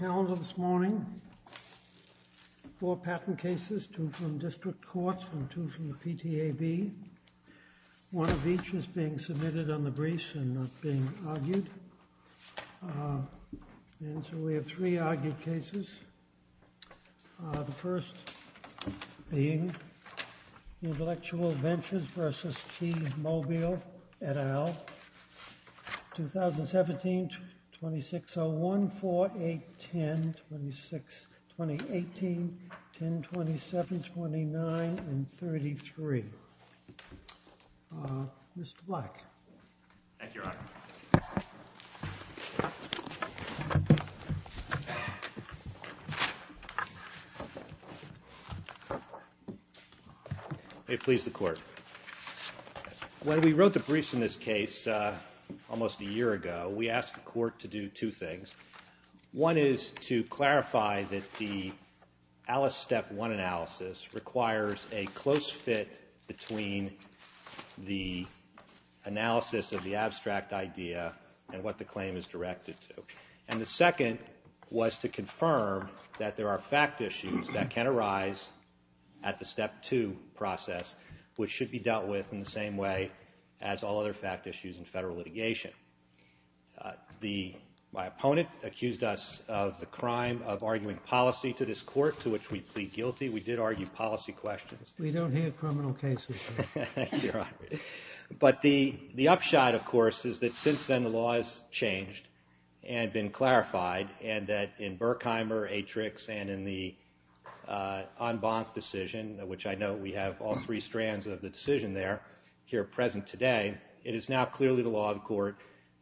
This morning, four patent cases, two from district courts and two from the PTAB. One of each is being submitted on the briefs and not being argued. And so we have three argued cases. The first being Intellectual Ventures v. T-Mobile, et al., 2017, 2601, 4810, 2018, 1027, 29, and 33. Mr. Black. Thank you, Your Honor. May it please the Court. When we wrote the briefs in this case almost a year ago, we asked the Court to do two things. One is to clarify that the Alice Step 1 analysis requires a close fit between the analysis of the abstract idea and what the claim is directed to. And the second was to confirm that there are fact issues that can arise at the Step 2 process, which should be dealt with in the same way as all other fact issues in federal litigation. My opponent accused us of the crime of arguing policy to this Court, to which we plead guilty. We did argue policy questions. We don't hear criminal cases. But the upshot, of course, is that since then the law has changed and been clarified, and that in Berkheimer, Atrix, and in the Anbanc decision, which I note we have all three strands of the decision there here present today, it is now clearly the law of the Court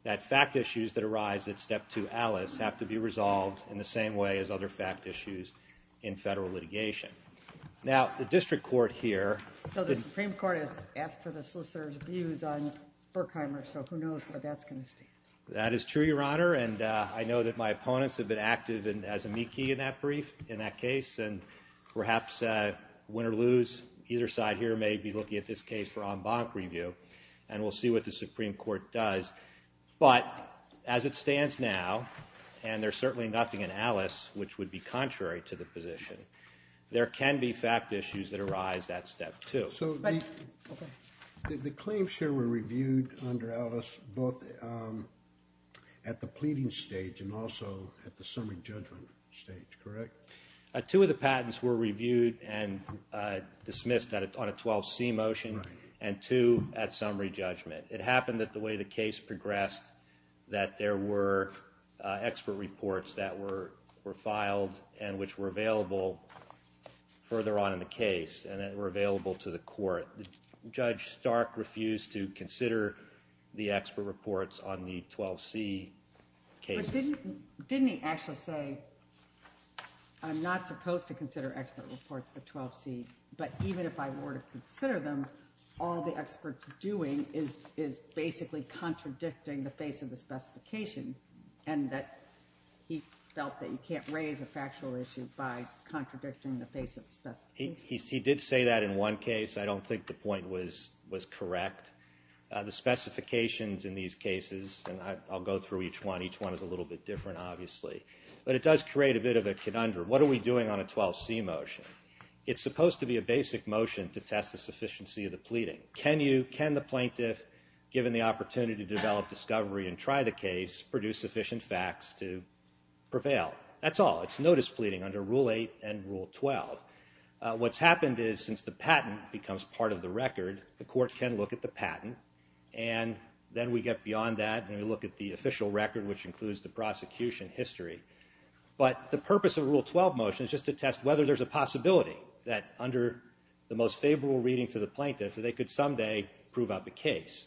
that fact issues that arise at Step 2 Alice have to be resolved in the same way as other fact issues in federal litigation. Now, the District Court here... So the Supreme Court has asked for the Solicitor's views on Berkheimer, so who knows where that's going to stand. That is true, Your Honor, and I know that my opponents have been active as amici in that brief, in that case, and perhaps win or lose, either side here may be looking at this case for Anbanc review, and we'll see what the Supreme Court does. But as it stands now, and there's certainly nothing in Alice which would be contrary to the position, there can be fact issues that arise at Step 2. So the claims here were reviewed under Alice both at the pleading stage and also at the summary judgment stage, correct? Two of the patents were reviewed and dismissed on a 12C motion and two at summary judgment. It happened that the way the case progressed that there were expert reports that were filed and which were available further on in the case and that were available to the court. Judge Stark refused to consider the expert reports on the 12C case. But didn't he actually say, I'm not supposed to consider expert reports for 12C, but even if I were to consider them, all the expert's doing is basically contradicting the face of the specification and that he felt that you can't raise a factual issue by contradicting the face of the specification. He did say that in one case. I don't think the point was correct. The specifications in these cases, and I'll go through each one. Each one is a little bit different, obviously. But it does create a bit of a conundrum. What are we doing on a 12C motion? It's supposed to be a basic motion to test the sufficiency of the pleading. Can the plaintiff, given the opportunity to develop discovery and try the case, produce sufficient facts to prevail? That's all. It's notice pleading under Rule 8 and Rule 12. What's happened is since the patent becomes part of the record, the court can look at the patent and then we get beyond that and we look at the official record, which includes the prosecution history. But the purpose of Rule 12 motion is just to test whether there's a possibility that under the most favorable reading to the plaintiff, they could someday prove out the case.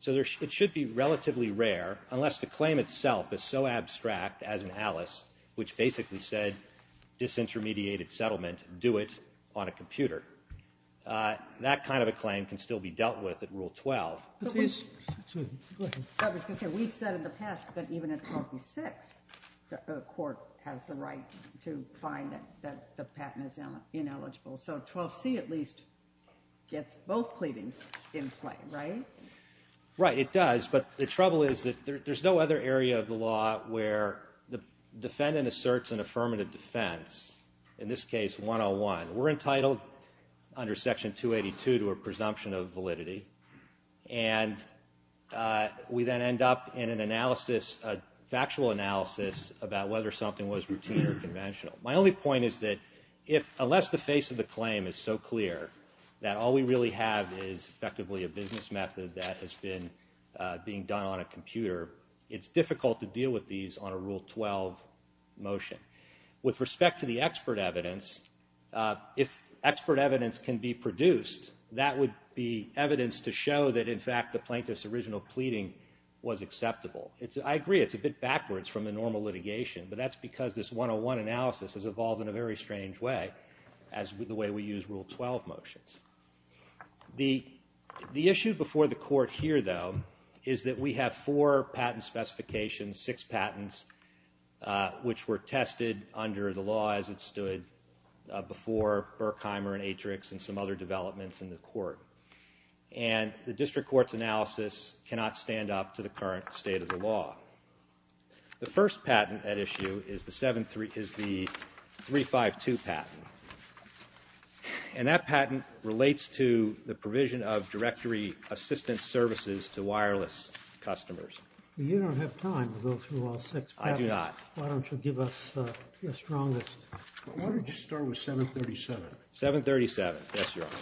So it should be relatively rare, unless the claim itself is so abstract as in Alice, which basically said disintermediated settlement, do it on a computer. That kind of a claim can still be dealt with at Rule 12. Excuse me. Go ahead. I was going to say, we've said in the past that even in 12B-6, the court has the right to find that the patent is ineligible. So 12C at least gets both pleadings in play, right? Right. It does, but the trouble is that there's no other area of the law where the defendant asserts an affirmative defense, in this case 101. We're entitled under Section 282 to a presumption of validity, and we then end up in an analysis, a factual analysis, about whether something was routine or conventional. My only point is that unless the face of the claim is so clear that all we really have is effectively a business method that has been being done on a computer, it's difficult to deal with these on a Rule 12 motion. With respect to the expert evidence, if expert evidence can be produced, that would be evidence to show that, in fact, the plaintiff's original pleading was acceptable. I agree it's a bit backwards from the normal litigation, but that's because this 101 analysis has evolved in a very strange way, as with the way we use Rule 12 motions. The issue before the court here, though, is that we have four patent specifications, six patents, which were tested under the law as it stood before Berkheimer and Atrix and some other developments in the court, and the district court's analysis cannot stand up to the current state of the law. The first patent at issue is the 752 patent, and that patent relates to the provision of directory assistance services to wireless customers. You don't have time to go through all six patents. I do not. Why don't you give us your strongest? Why don't you start with 737? 737, yes, Your Honor.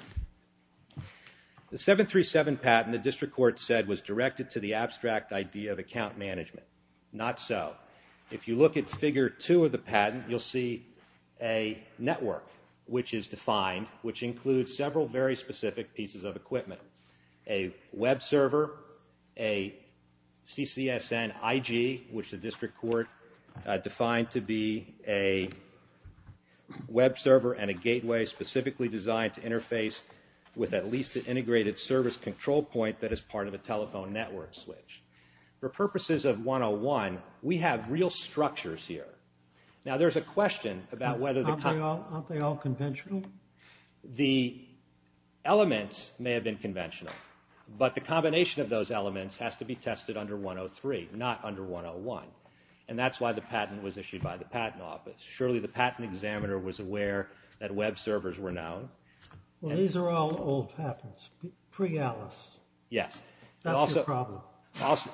The 737 patent, the district court said, was directed to the abstract idea of account management. Not so. If you look at Figure 2 of the patent, you'll see a network, which is defined, which includes several very specific pieces of equipment, a web server, a CCSN IG, which the district court defined to be a web server and a gateway specifically designed to interface with at least an integrated service control point that is part of a telephone network switch. For purposes of 101, we have real structures here. Now, there's a question about whether the... Aren't they all conventional? The elements may have been conventional, but the combination of those elements has to be tested under 103, not under 101, and that's why the patent was issued by the Patent Office. Surely the patent examiner was aware that web servers were known. Well, these are all old patents, pre-ATLAS. Yes. That's your problem.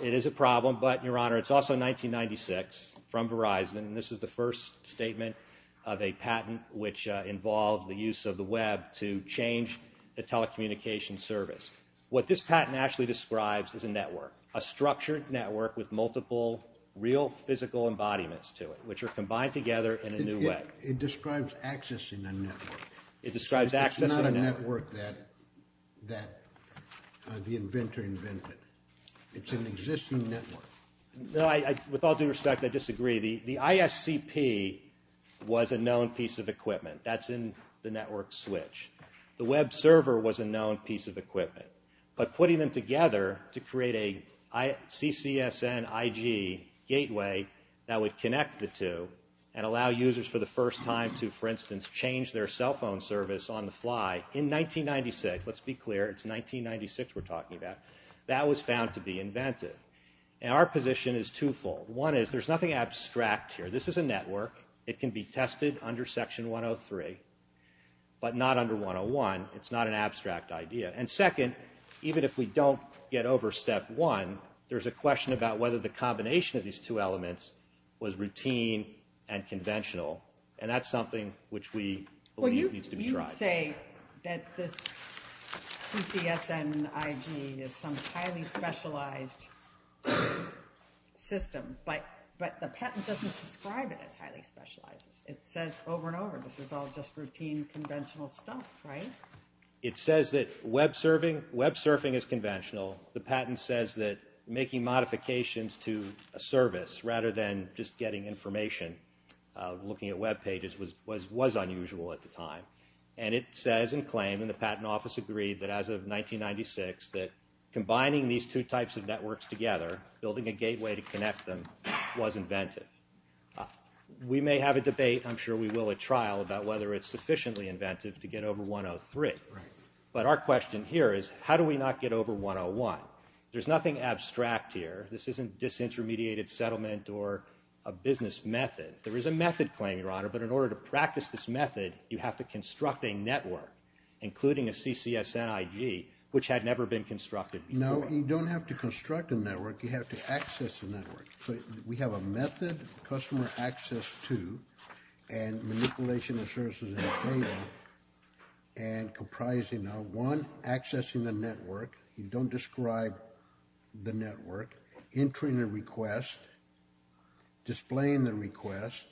It is a problem, but, Your Honor, it's also 1996, from Verizon, and this is the first statement of a patent which involved the use of the web to change the telecommunications service. What this patent actually describes is a network, a structured network with multiple real physical embodiments to it, which are combined together in a new way. It describes accessing a network. It describes accessing a network. It's not a network that the inventor invented. It's an existing network. With all due respect, I disagree. The ISCP was a known piece of equipment. That's in the network switch. The web server was a known piece of equipment. But putting them together to create a CCSN IG gateway that would connect the two and allow users for the first time to, for instance, change their cell phone service on the fly in 1996, let's be clear, it's 1996 we're talking about, that was found to be invented. And our position is twofold. One is there's nothing abstract here. This is a network. It can be tested under Section 103, but not under 101. It's not an abstract idea. And second, even if we don't get over Step 1, there's a question about whether the combination of these two elements was routine and conventional, and that's something which we believe needs to be tried. Well, you say that this CCSN IG is some highly specialized system, but the patent doesn't describe it as highly specialized. It says over and over this is all just routine, conventional stuff, right? It says that web surfing is conventional. The patent says that making modifications to a service rather than just getting information, looking at web pages, was unusual at the time. And it says in claim, and the patent office agreed that as of 1996, that combining these two types of networks together, building a gateway to connect them, was inventive. But our question here is how do we not get over 101? There's nothing abstract here. This isn't disintermediated settlement or a business method. There is a method claim, Your Honor, but in order to practice this method, you have to construct a network, including a CCSN IG, which had never been constructed before. No, you don't have to construct a network. You have to access a network. So we have a method, customer access to, and manipulation of services in the payment, and comprising of, one, accessing the network. You don't describe the network. Entering a request, displaying the request,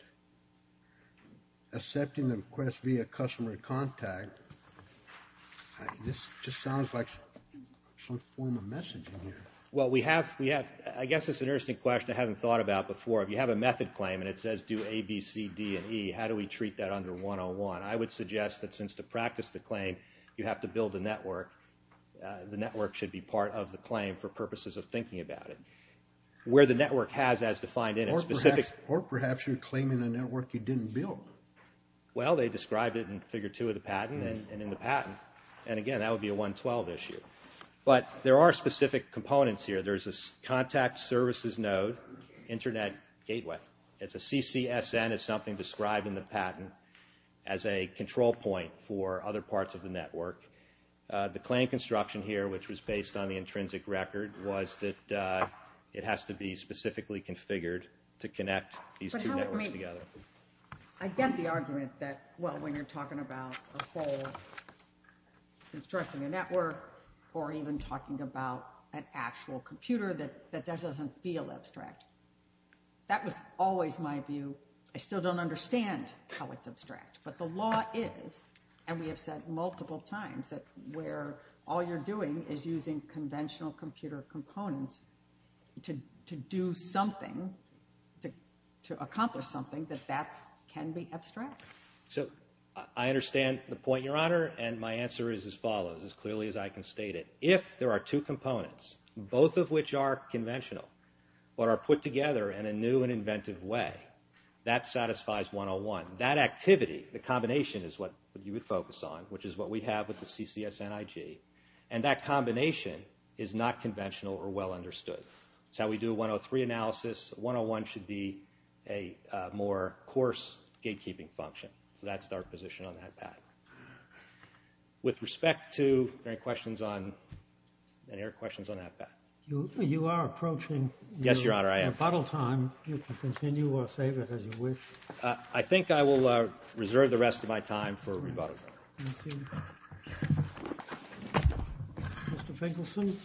accepting the request via customer contact. This just sounds like some form of messaging here. Well, we have, I guess it's an interesting question I haven't thought about before. If you have a method claim and it says do A, B, C, D, and E, how do we treat that under 101? I would suggest that since to practice the claim, you have to build a network, the network should be part of the claim for purposes of thinking about it. Where the network has as defined in a specific. Or perhaps you're claiming a network you didn't build. Well, they described it in Figure 2 of the patent and in the patent. And, again, that would be a 112 issue. But there are specific components here. There's a contact services node, internet gateway. It's a CCSN. It's something described in the patent as a control point for other parts of the network. The claim construction here, which was based on the intrinsic record, was that it has to be specifically configured to connect these two networks together. I get the argument that, well, when you're talking about a whole constructing a network or even talking about an actual computer, that that doesn't feel abstract. That was always my view. I still don't understand how it's abstract. But the law is, and we have said multiple times, that where all you're doing is using conventional computer components to do something, to accomplish something, that that can be abstract. So I understand the point, Your Honor, and my answer is as follows, as clearly as I can state it. If there are two components, both of which are conventional, but are put together in a new and inventive way, that satisfies 101. That activity, the combination, is what you would focus on, which is what we have with the CCSN IG. And that combination is not conventional or well understood. It's how we do a 103 analysis. 101 should be a more coarse gatekeeping function. So that's our position on that path. With respect to, are there any questions on that path? You are approaching your rebuttal time. Yes, Your Honor, I am. You can continue or save it as you wish. I think I will reserve the rest of my time for rebuttal. Thank you. Thank you. Mr. Finkelson,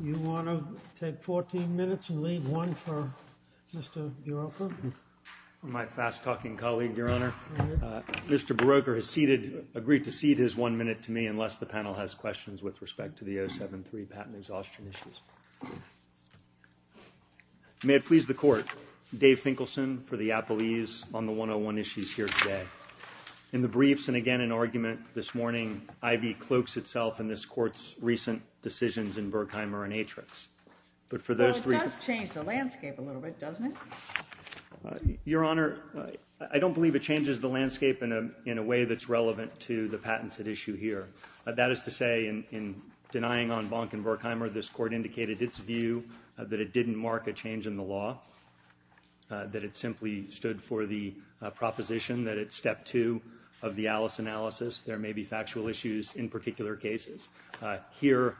you want to take 14 minutes and leave one for Mr. Berroker? For my fast-talking colleague, Your Honor, Mr. Berroker has agreed to cede his one minute to me unless the panel has questions with respect to the 073 patent exhaustion issues. May it please the Court, Dave Finkelson for the appellees on the 101 issues here today. In the briefs and again in argument this morning, Ivy cloaks itself in this Court's recent decisions in Berkheimer and Atrix. Well, it does change the landscape a little bit, doesn't it? Your Honor, I don't believe it changes the landscape in a way that's relevant to the patents at issue here. That is to say, in denying on Bonk and Berkheimer, this Court indicated its view that it didn't mark a change in the law, that it simply stood for the proposition that it's step two of the Alice analysis. There may be factual issues in particular cases. Here,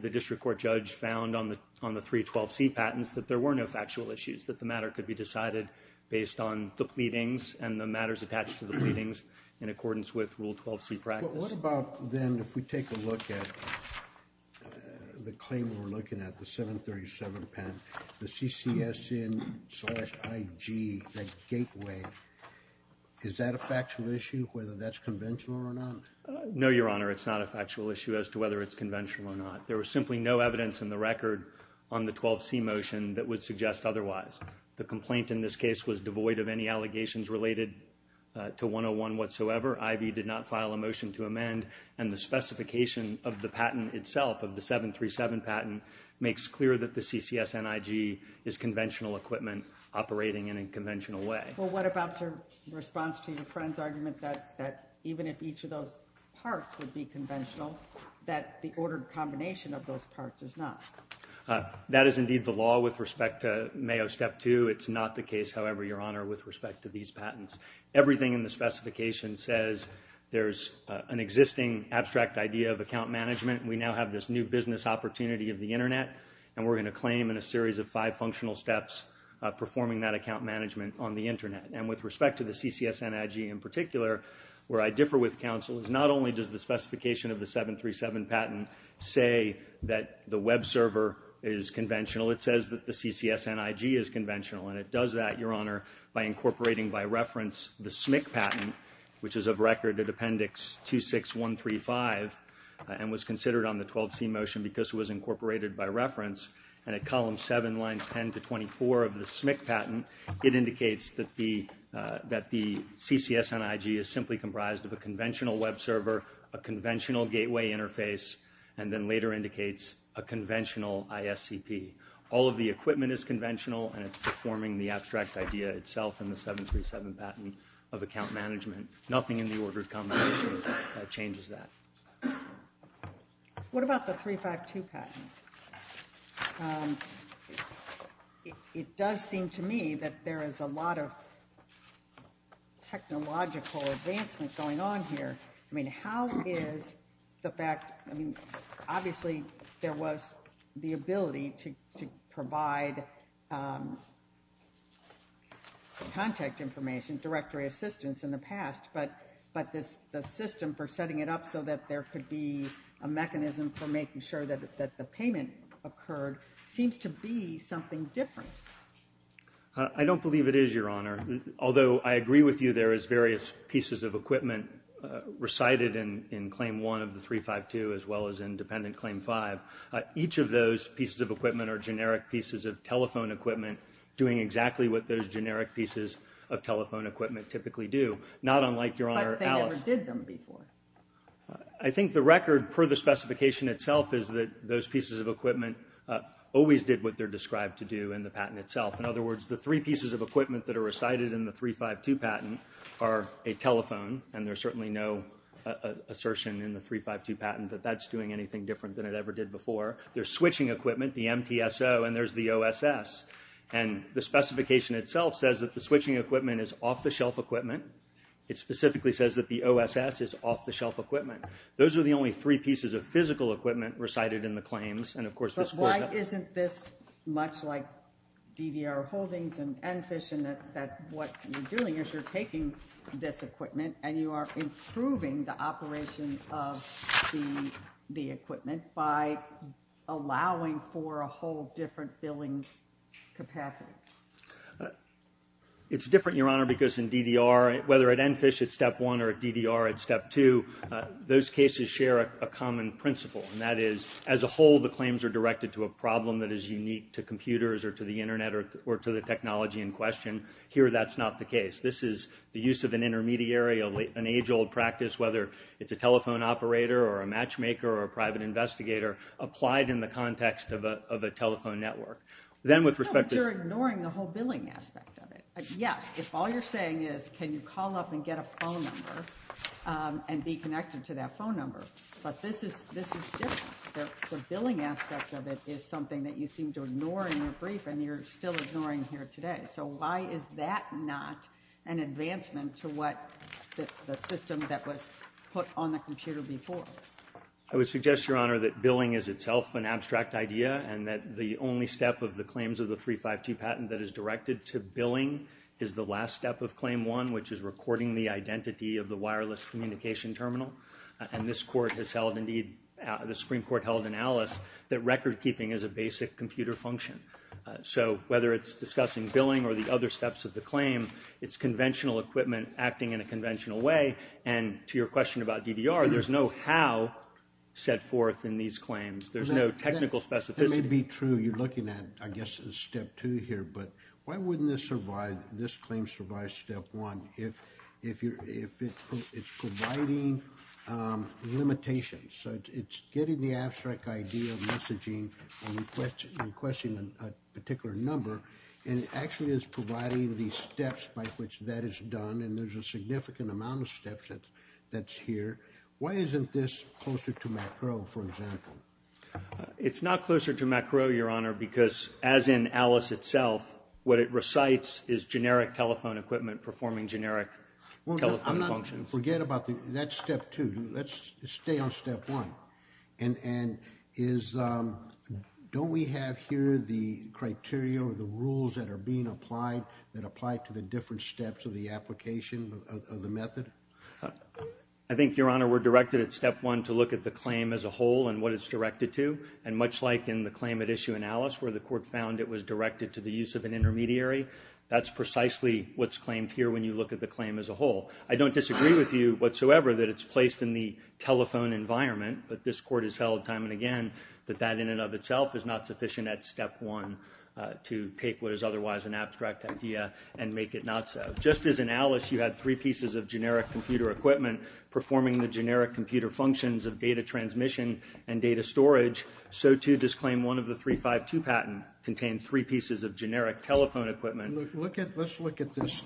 the district court judge found on the 312C patents that there were no factual issues, that the matter could be decided based on the pleadings and the matters attached to the pleadings in accordance with Rule 12C practice. What about then if we take a look at the claim we're looking at, the 737 patent, the CCSN-IG, that gateway, is that a factual issue, whether that's conventional or not? No, Your Honor, it's not a factual issue as to whether it's conventional or not. There was simply no evidence in the record on the 12C motion that would suggest otherwise. The complaint in this case was devoid of any allegations related to 101 whatsoever. Ivy did not file a motion to amend, and the specification of the patent itself, of the 737 patent, makes clear that the CCSN-IG is conventional equipment operating in a conventional way. Well, what about your response to your friend's argument that even if each of those parts would be conventional, that the ordered combination of those parts is not? That is indeed the law with respect to Mayo Step 2. It's not the case, however, Your Honor, with respect to these patents. Everything in the specification says there's an existing abstract idea of account management. We now have this new business opportunity of the Internet, and we're going to claim in a series of five functional steps performing that account management on the Internet. And with respect to the CCSN-IG in particular, where I differ with counsel, is not only does the specification of the 737 patent say that the web server is conventional, it says that the CCSN-IG is conventional, and it does that, Your Honor, by incorporating by reference the SMIC patent, which is of record at Appendix 26135, and was considered on the 12C motion because it was incorporated by reference. And at Column 7, Lines 10 to 24 of the SMIC patent, it indicates that the CCSN-IG is simply comprised of a conventional web server, a conventional gateway interface, and then later indicates a conventional ISCP. All of the equipment is conventional, and it's performing the abstract idea itself in the 737 patent of account management. Nothing in the ordered combination changes that. What about the 352 patent? It does seem to me that there is a lot of technological advancement going on here. I mean, how is the fact, I mean, obviously there was the ability to provide contact information, directory assistance in the past, but the system for setting it up so that there could be a mechanism for making sure that the payment occurred seems to be something different. I don't believe it is, Your Honor. Although I agree with you there is various pieces of equipment recited in Claim 1 of the 352 as well as in Dependent Claim 5. Each of those pieces of equipment are generic pieces of telephone equipment doing exactly what those generic pieces of telephone equipment typically do, not unlike, Your Honor, Alice. But they never did them before. I think the record, per the specification itself, is that those pieces of equipment always did what they're described to do in the patent itself. In other words, the three pieces of equipment that are recited in the 352 patent are a telephone, and there's certainly no assertion in the 352 patent that that's doing anything different than it ever did before. There's switching equipment, the MTSO, and there's the OSS. And the specification itself says that the switching equipment is off-the-shelf equipment. It specifically says that the OSS is off-the-shelf equipment. Those are the only three pieces of physical equipment recited in the claims. But why isn't this much like DDR holdings and NFISH in that what you're doing is you're taking this equipment and you are improving the operation of the equipment by allowing for a whole different billing capacity? It's different, Your Honor, because in DDR, whether at NFISH it's Step 1, or at DDR it's Step 2, those cases share a common principle, and that is as a whole the claims are directed to a problem that is unique to computers or to the Internet or to the technology in question. Here that's not the case. This is the use of an intermediary, an age-old practice, whether it's a telephone operator or a matchmaker or a private investigator, applied in the context of a telephone network. No, but you're ignoring the whole billing aspect of it. Yes, if all you're saying is can you call up and get a phone number and be connected to that phone number. But this is different. The billing aspect of it is something that you seem to ignore in your brief, and you're still ignoring here today. So why is that not an advancement to the system that was put on the computer before? I would suggest, Your Honor, that billing is itself an abstract idea and that the only step of the claims of the 352 patent that is directed to billing is the last step of Claim 1, which is recording the identity of the wireless communication terminal. And this Court has held, indeed, the Supreme Court held in Alice, that recordkeeping is a basic computer function. So whether it's discussing billing or the other steps of the claim, it's conventional equipment acting in a conventional way. And to your question about DDR, there's no how set forth in these claims. There's no technical specificity. That may be true. You're looking at, I guess, Step 2 here. But why wouldn't this claim survive Step 1 if it's providing limitations? So it's getting the abstract idea of messaging and requesting a particular number, and it actually is providing the steps by which that is done, and there's a significant amount of steps that's here. Why isn't this closer to MACRO, for example? It's not closer to MACRO, Your Honor, because as in Alice itself, what it recites is generic telephone equipment performing generic telephone functions. Forget about that. That's Step 2. Let's stay on Step 1. And don't we have here the criteria or the rules that are being applied that apply to the different steps of the application of the method? I think, Your Honor, we're directed at Step 1 to look at the claim as a whole and what it's directed to, and much like in the claim at issue in Alice where the court found it was directed to the use of an intermediary, that's precisely what's claimed here when you look at the claim as a whole. I don't disagree with you whatsoever that it's placed in the telephone environment, but this court has held time and again that that in and of itself is not sufficient at Step 1 to take what is otherwise an abstract idea and make it not so. Just as in Alice you had three pieces of generic computer equipment performing the generic computer functions of data transmission and data storage, so too does Claim 1 of the 352 patent contain three pieces of generic telephone equipment. Let's look at this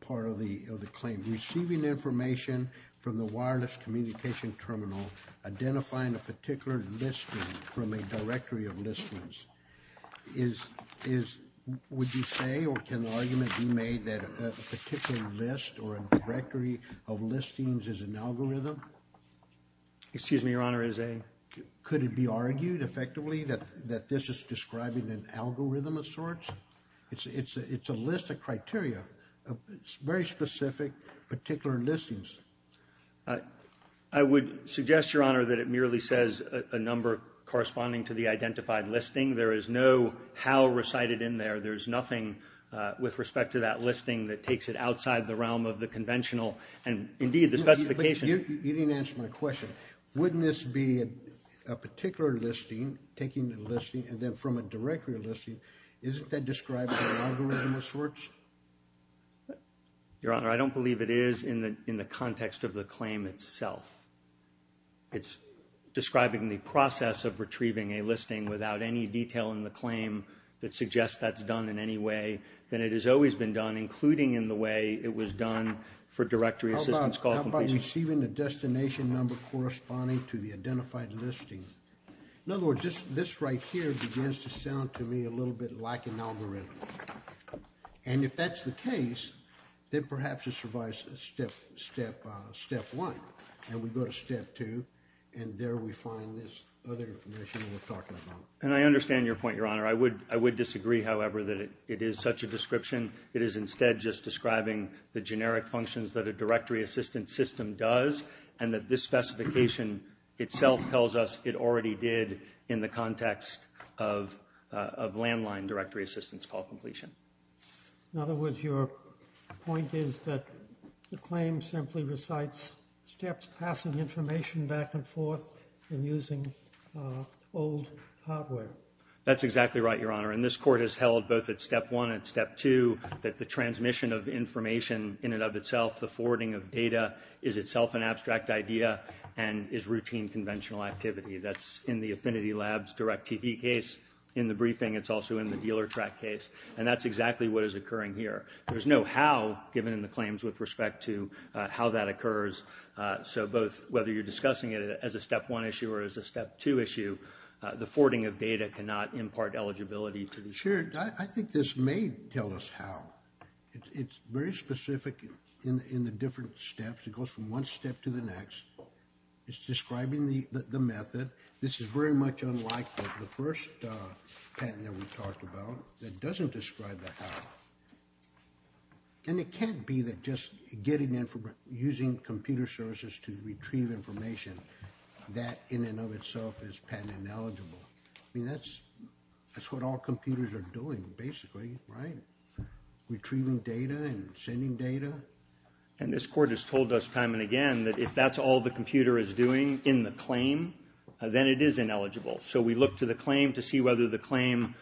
part of the claim. Receiving information from the wireless communication terminal, identifying a particular listing from a directory of listings, would you say or can an argument be made that a particular list or a directory of listings is an algorithm? Excuse me, Your Honor, is a? Could it be argued effectively that this is describing an algorithm of sorts? It's a list of criteria. It's very specific, particular listings. I would suggest, Your Honor, that it merely says a number corresponding to the identified listing. There is no how recited in there. There's nothing with respect to that listing that takes it outside the realm of the conventional and, indeed, the specification. You didn't answer my question. Wouldn't this be a particular listing, taking the listing and then from a directory of listings, isn't that describing an algorithm of sorts? Your Honor, I don't believe it is in the context of the claim itself. It's describing the process of retrieving a listing without any detail in the claim that suggests that's done in any way. Then it has always been done, including in the way it was done for directory assistance call completion. How about receiving the destination number corresponding to the identified listing? In other words, this right here begins to sound to me a little bit like an algorithm. And if that's the case, then perhaps it survives step one, and we go to step two, and there we find this other information that we're talking about. And I understand your point, Your Honor. I would disagree, however, that it is such a description. It is instead just describing the generic functions that a directory assistance system does, and that this specification itself tells us it already did in the context of landline directory assistance call completion. In other words, your point is that the claim simply recites steps passing information back and forth and using old hardware. That's exactly right, Your Honor. And this Court has held both at step one and step two that the transmission of information in and of itself, the forwarding of data, is itself an abstract idea and is routine conventional activity. That's in the Affinity Labs direct TV case. In the briefing, it's also in the dealer track case. And that's exactly what is occurring here. There's no how given in the claims with respect to how that occurs. So both whether you're discussing it as a step one issue or as a step two issue, the forwarding of data cannot impart eligibility to the... Sure. I think this may tell us how. It's very specific in the different steps. It goes from one step to the next. It's describing the method. This is very much unlike the first patent that we talked about that doesn't describe the how. And it can't be that just getting information, using computer services to retrieve information, that in and of itself is patent ineligible. I mean, that's what all computers are doing, basically, right? Retrieving data and sending data. And this court has told us time and again that if that's all the computer is doing in the claim, then it is ineligible. So we look to the claim to see whether the claim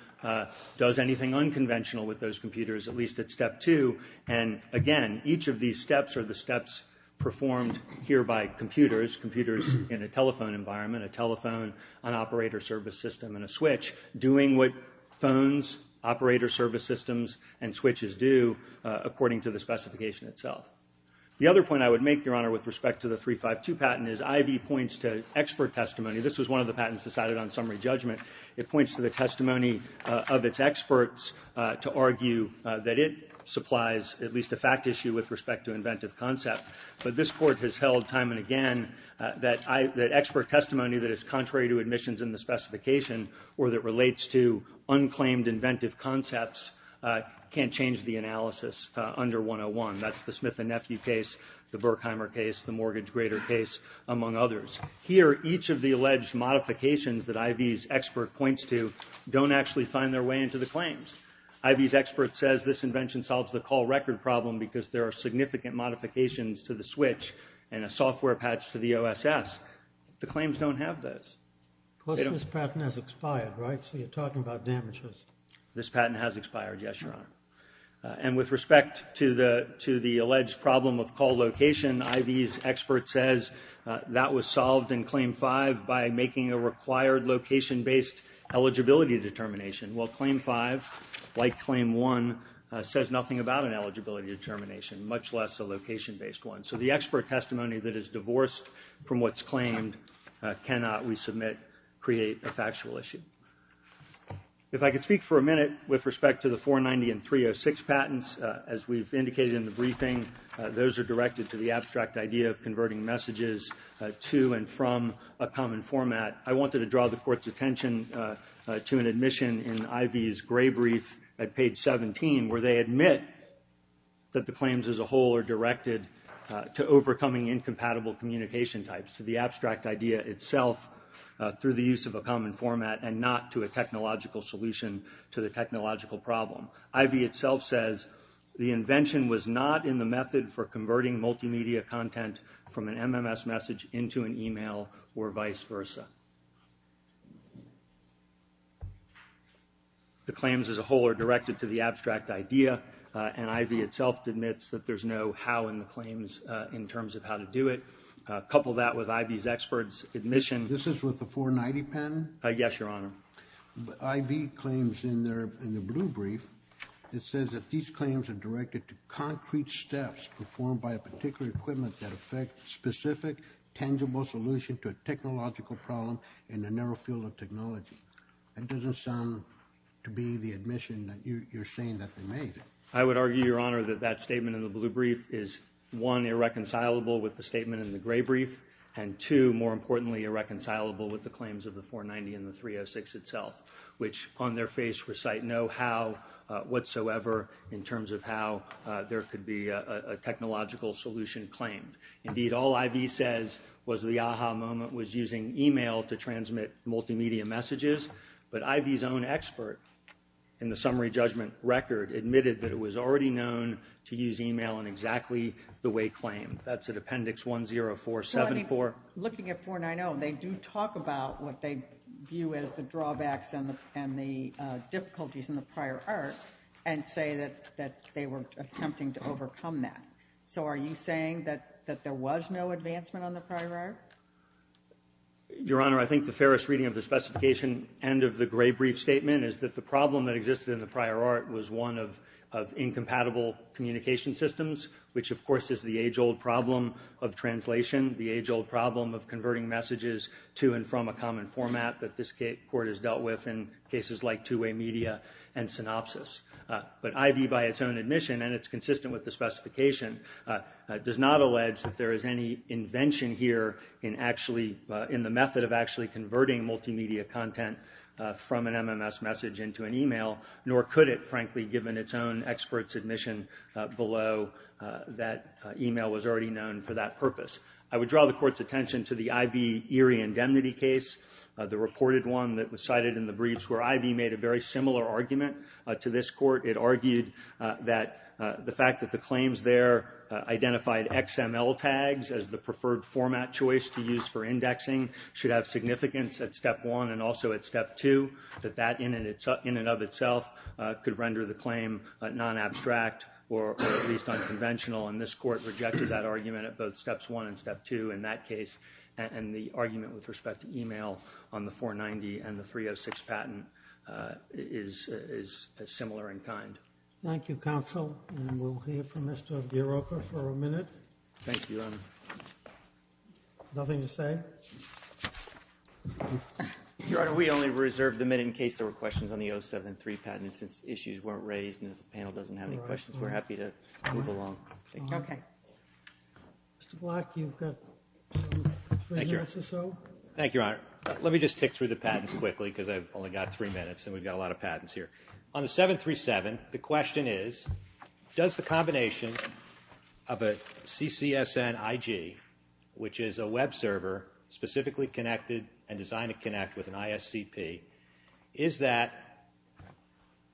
does anything unconventional with those computers, at least at step two. And again, each of these steps are the steps performed here by computers. Computers in a telephone environment, a telephone, an operator service system, and a switch, doing what phones, operator service systems, and switches do according to the specification itself. The other point I would make, Your Honor, with respect to the 352 patent is IV points to expert testimony. This was one of the patents decided on summary judgment. It points to the testimony of its experts to argue that it supplies at least a fact issue with respect to inventive concept. But this court has held time and again that expert testimony that is contrary to admissions in the specification or that relates to unclaimed inventive concepts can't change the analysis under 101. That's the Smith and Nephew case, the Berkheimer case, the mortgage grader case, among others. Here, each of the alleged modifications that IV's expert points to don't actually find their way into the claims. IV's expert says this invention solves the call record problem because there are significant modifications to the switch and a software patch to the OSS. The claims don't have those. This patent has expired, right? So you're talking about damages. This patent has expired, yes, Your Honor. And with respect to the alleged problem of call location, IV's expert says that was solved in Claim 5 by making a required location-based eligibility determination. Well, Claim 5, like Claim 1, says nothing about an eligibility determination, much less a location-based one. So the expert testimony that is divorced from what's claimed cannot, we submit, create a factual issue. If I could speak for a minute with respect to the 490 and 306 patents, as we've indicated in the briefing, those are directed to the abstract idea I wanted to draw the Court's attention to an admission in IV's gray brief at page 17 where they admit that the claims as a whole are directed to overcoming incompatible communication types, to the abstract idea itself through the use of a common format and not to a technological solution to the technological problem. IV itself says the invention was not in the method for converting multimedia content from an MMS message into an email or vice versa. The claims as a whole are directed to the abstract idea, and IV itself admits that there's no how in the claims in terms of how to do it. Couple that with IV's experts' admission. This is with the 490 patent? Yes, Your Honor. IV claims in their blue brief, it says that these claims are directed to concrete steps performed by a particular equipment that affect specific, tangible solution to a technological problem in a narrow field of technology. That doesn't sound to be the admission that you're saying that they made. I would argue, Your Honor, that that statement in the blue brief is one, irreconcilable with the statement in the gray brief, and two, more importantly, irreconcilable with the claims of the 490 and the 306 itself, which on their face recite no how whatsoever in terms of how there could be a technological solution claimed. Indeed, all IV says was the aha moment was using email to transmit multimedia messages, but IV's own expert in the summary judgment record admitted that it was already known to use email in exactly the way claimed. That's at Appendix 10474. Looking at 490, they do talk about what they view as the drawbacks and the difficulties in the prior art and say that they were attempting to overcome that. So are you saying that there was no advancement on the prior art? Your Honor, I think the fairest reading of the specification and of the gray brief statement is that the problem that existed in the prior art was one of incompatible communication systems, which, of course, is the age-old problem of translation, the age-old problem of converting messages to and from a common format that this Court has dealt with in cases like two-way media and synopsis. But IV, by its own admission, and it's consistent with the specification, does not allege that there is any invention here in the method of actually converting multimedia content from an MMS message into an email, nor could it, frankly, given its own expert's admission below, that email was already known for that purpose. I would draw the Court's attention to the IV Erie indemnity case, the reported one that was cited in the briefs where IV made a very similar argument to this Court. It argued that the fact that the claims there identified XML tags as the preferred format choice to use for indexing should have significance at Step 1 and also at Step 2, that that in and of itself could render the claim non-abstract or at least unconventional, and this Court rejected that argument at both Steps 1 and Step 2 in that case, and the argument with respect to email on the 490 and the 306 patent is similar in kind. Thank you, counsel, and we'll hear from Mr. Bureau for a minute. Thank you, Your Honor. Nothing to say? Your Honor, we only reserved the minute in case there were questions on the 073 patent, and since issues weren't raised and the panel doesn't have any questions, we're happy to move along. Okay. Mr. Black, you've got three minutes or so. Thank you, Your Honor. Let me just tick through the patents quickly because I've only got three minutes and we've got a lot of patents here. On the 737, the question is, does the combination of a CCSN IG, which is a web server specifically connected and designed to connect with an ISCP, is that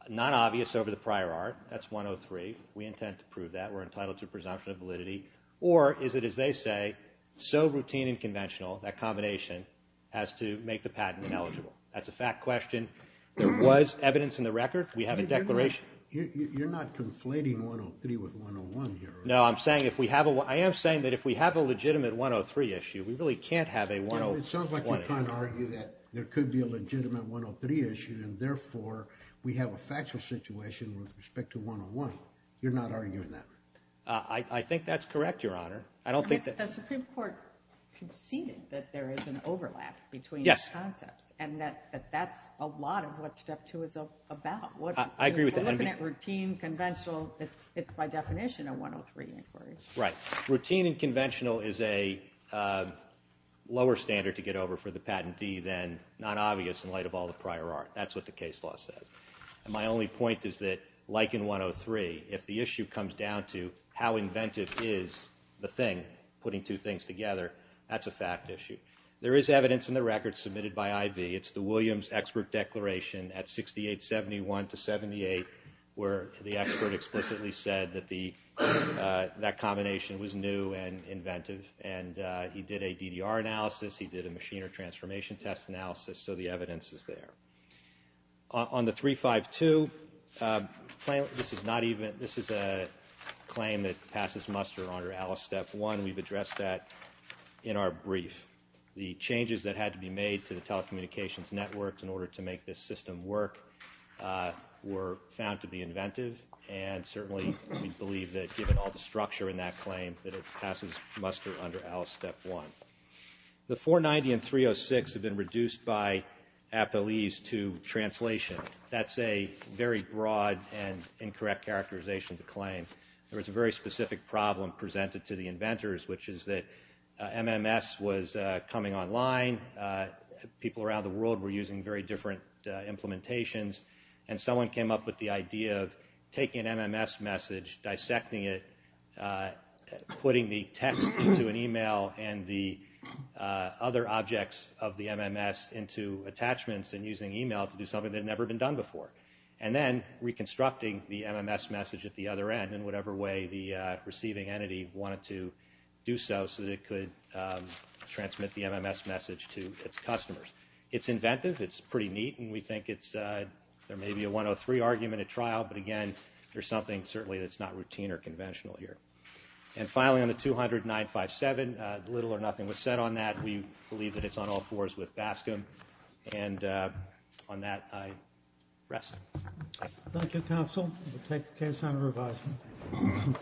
not obvious over the prior art? That's 103. We intend to prove that. We're entitled to a presumption of validity. Or is it, as they say, so routine and conventional, that combination has to make the patent ineligible? That's a fact question. There was evidence in the record. We have a declaration. You're not conflating 103 with 101 here, are you? No. I am saying that if we have a legitimate 103 issue, we really can't have a 101 issue. It sounds like you're trying to argue that there could be a legitimate 103 issue and, therefore, we have a factual situation with respect to 101. You're not arguing that? I think that's correct, Your Honor. I don't think that... But the Supreme Court conceded that there is an overlap between these concepts and that that's a lot of what Step 2 is about. I agree with that. We're looking at routine, conventional. It's, by definition, a 103 inquiry. Right. Routine and conventional is a lower standard to get over for the patentee than not obvious in light of all the prior art. That's what the case law says. And my only point is that, like in 103, if the issue comes down to how inventive is the thing, putting two things together, that's a fact issue. There is evidence in the record submitted by I.V. It's the Williams expert declaration at 6871 to 78 where the expert explicitly said that that combination was new and inventive. And he did a DDR analysis. He did a machine or transformation test analysis. So the evidence is there. On the 352, this is not even... This is a claim that passes muster under Alice Step 1. We've addressed that in our brief. The changes that had to be made to the telecommunications networks in order to make this system work were found to be inventive, and certainly we believe that, given all the structure in that claim, that it passes muster under Alice Step 1. The 490 and 306 have been reduced by appellees to translation. That's a very broad and incorrect characterization to claim. There was a very specific problem presented to the inventors, which is that MMS was coming online. People around the world were using very different implementations, and someone came up with the idea of taking an MMS message, dissecting it, putting the text into an e-mail and the other objects of the MMS into attachments and using e-mail to do something that had never been done before, and then reconstructing the MMS message at the other end in whatever way the receiving entity wanted to do so so that it could transmit the MMS message to its customers. It's inventive, it's pretty neat, and we think there may be a 103 argument at trial, but again, there's something certainly that's not routine or conventional here. And finally, on the 200-957, little or nothing was said on that. We believe that it's on all fours with BASCM. And on that, I rest. Thank you, counsel. We'll take the case on revisement.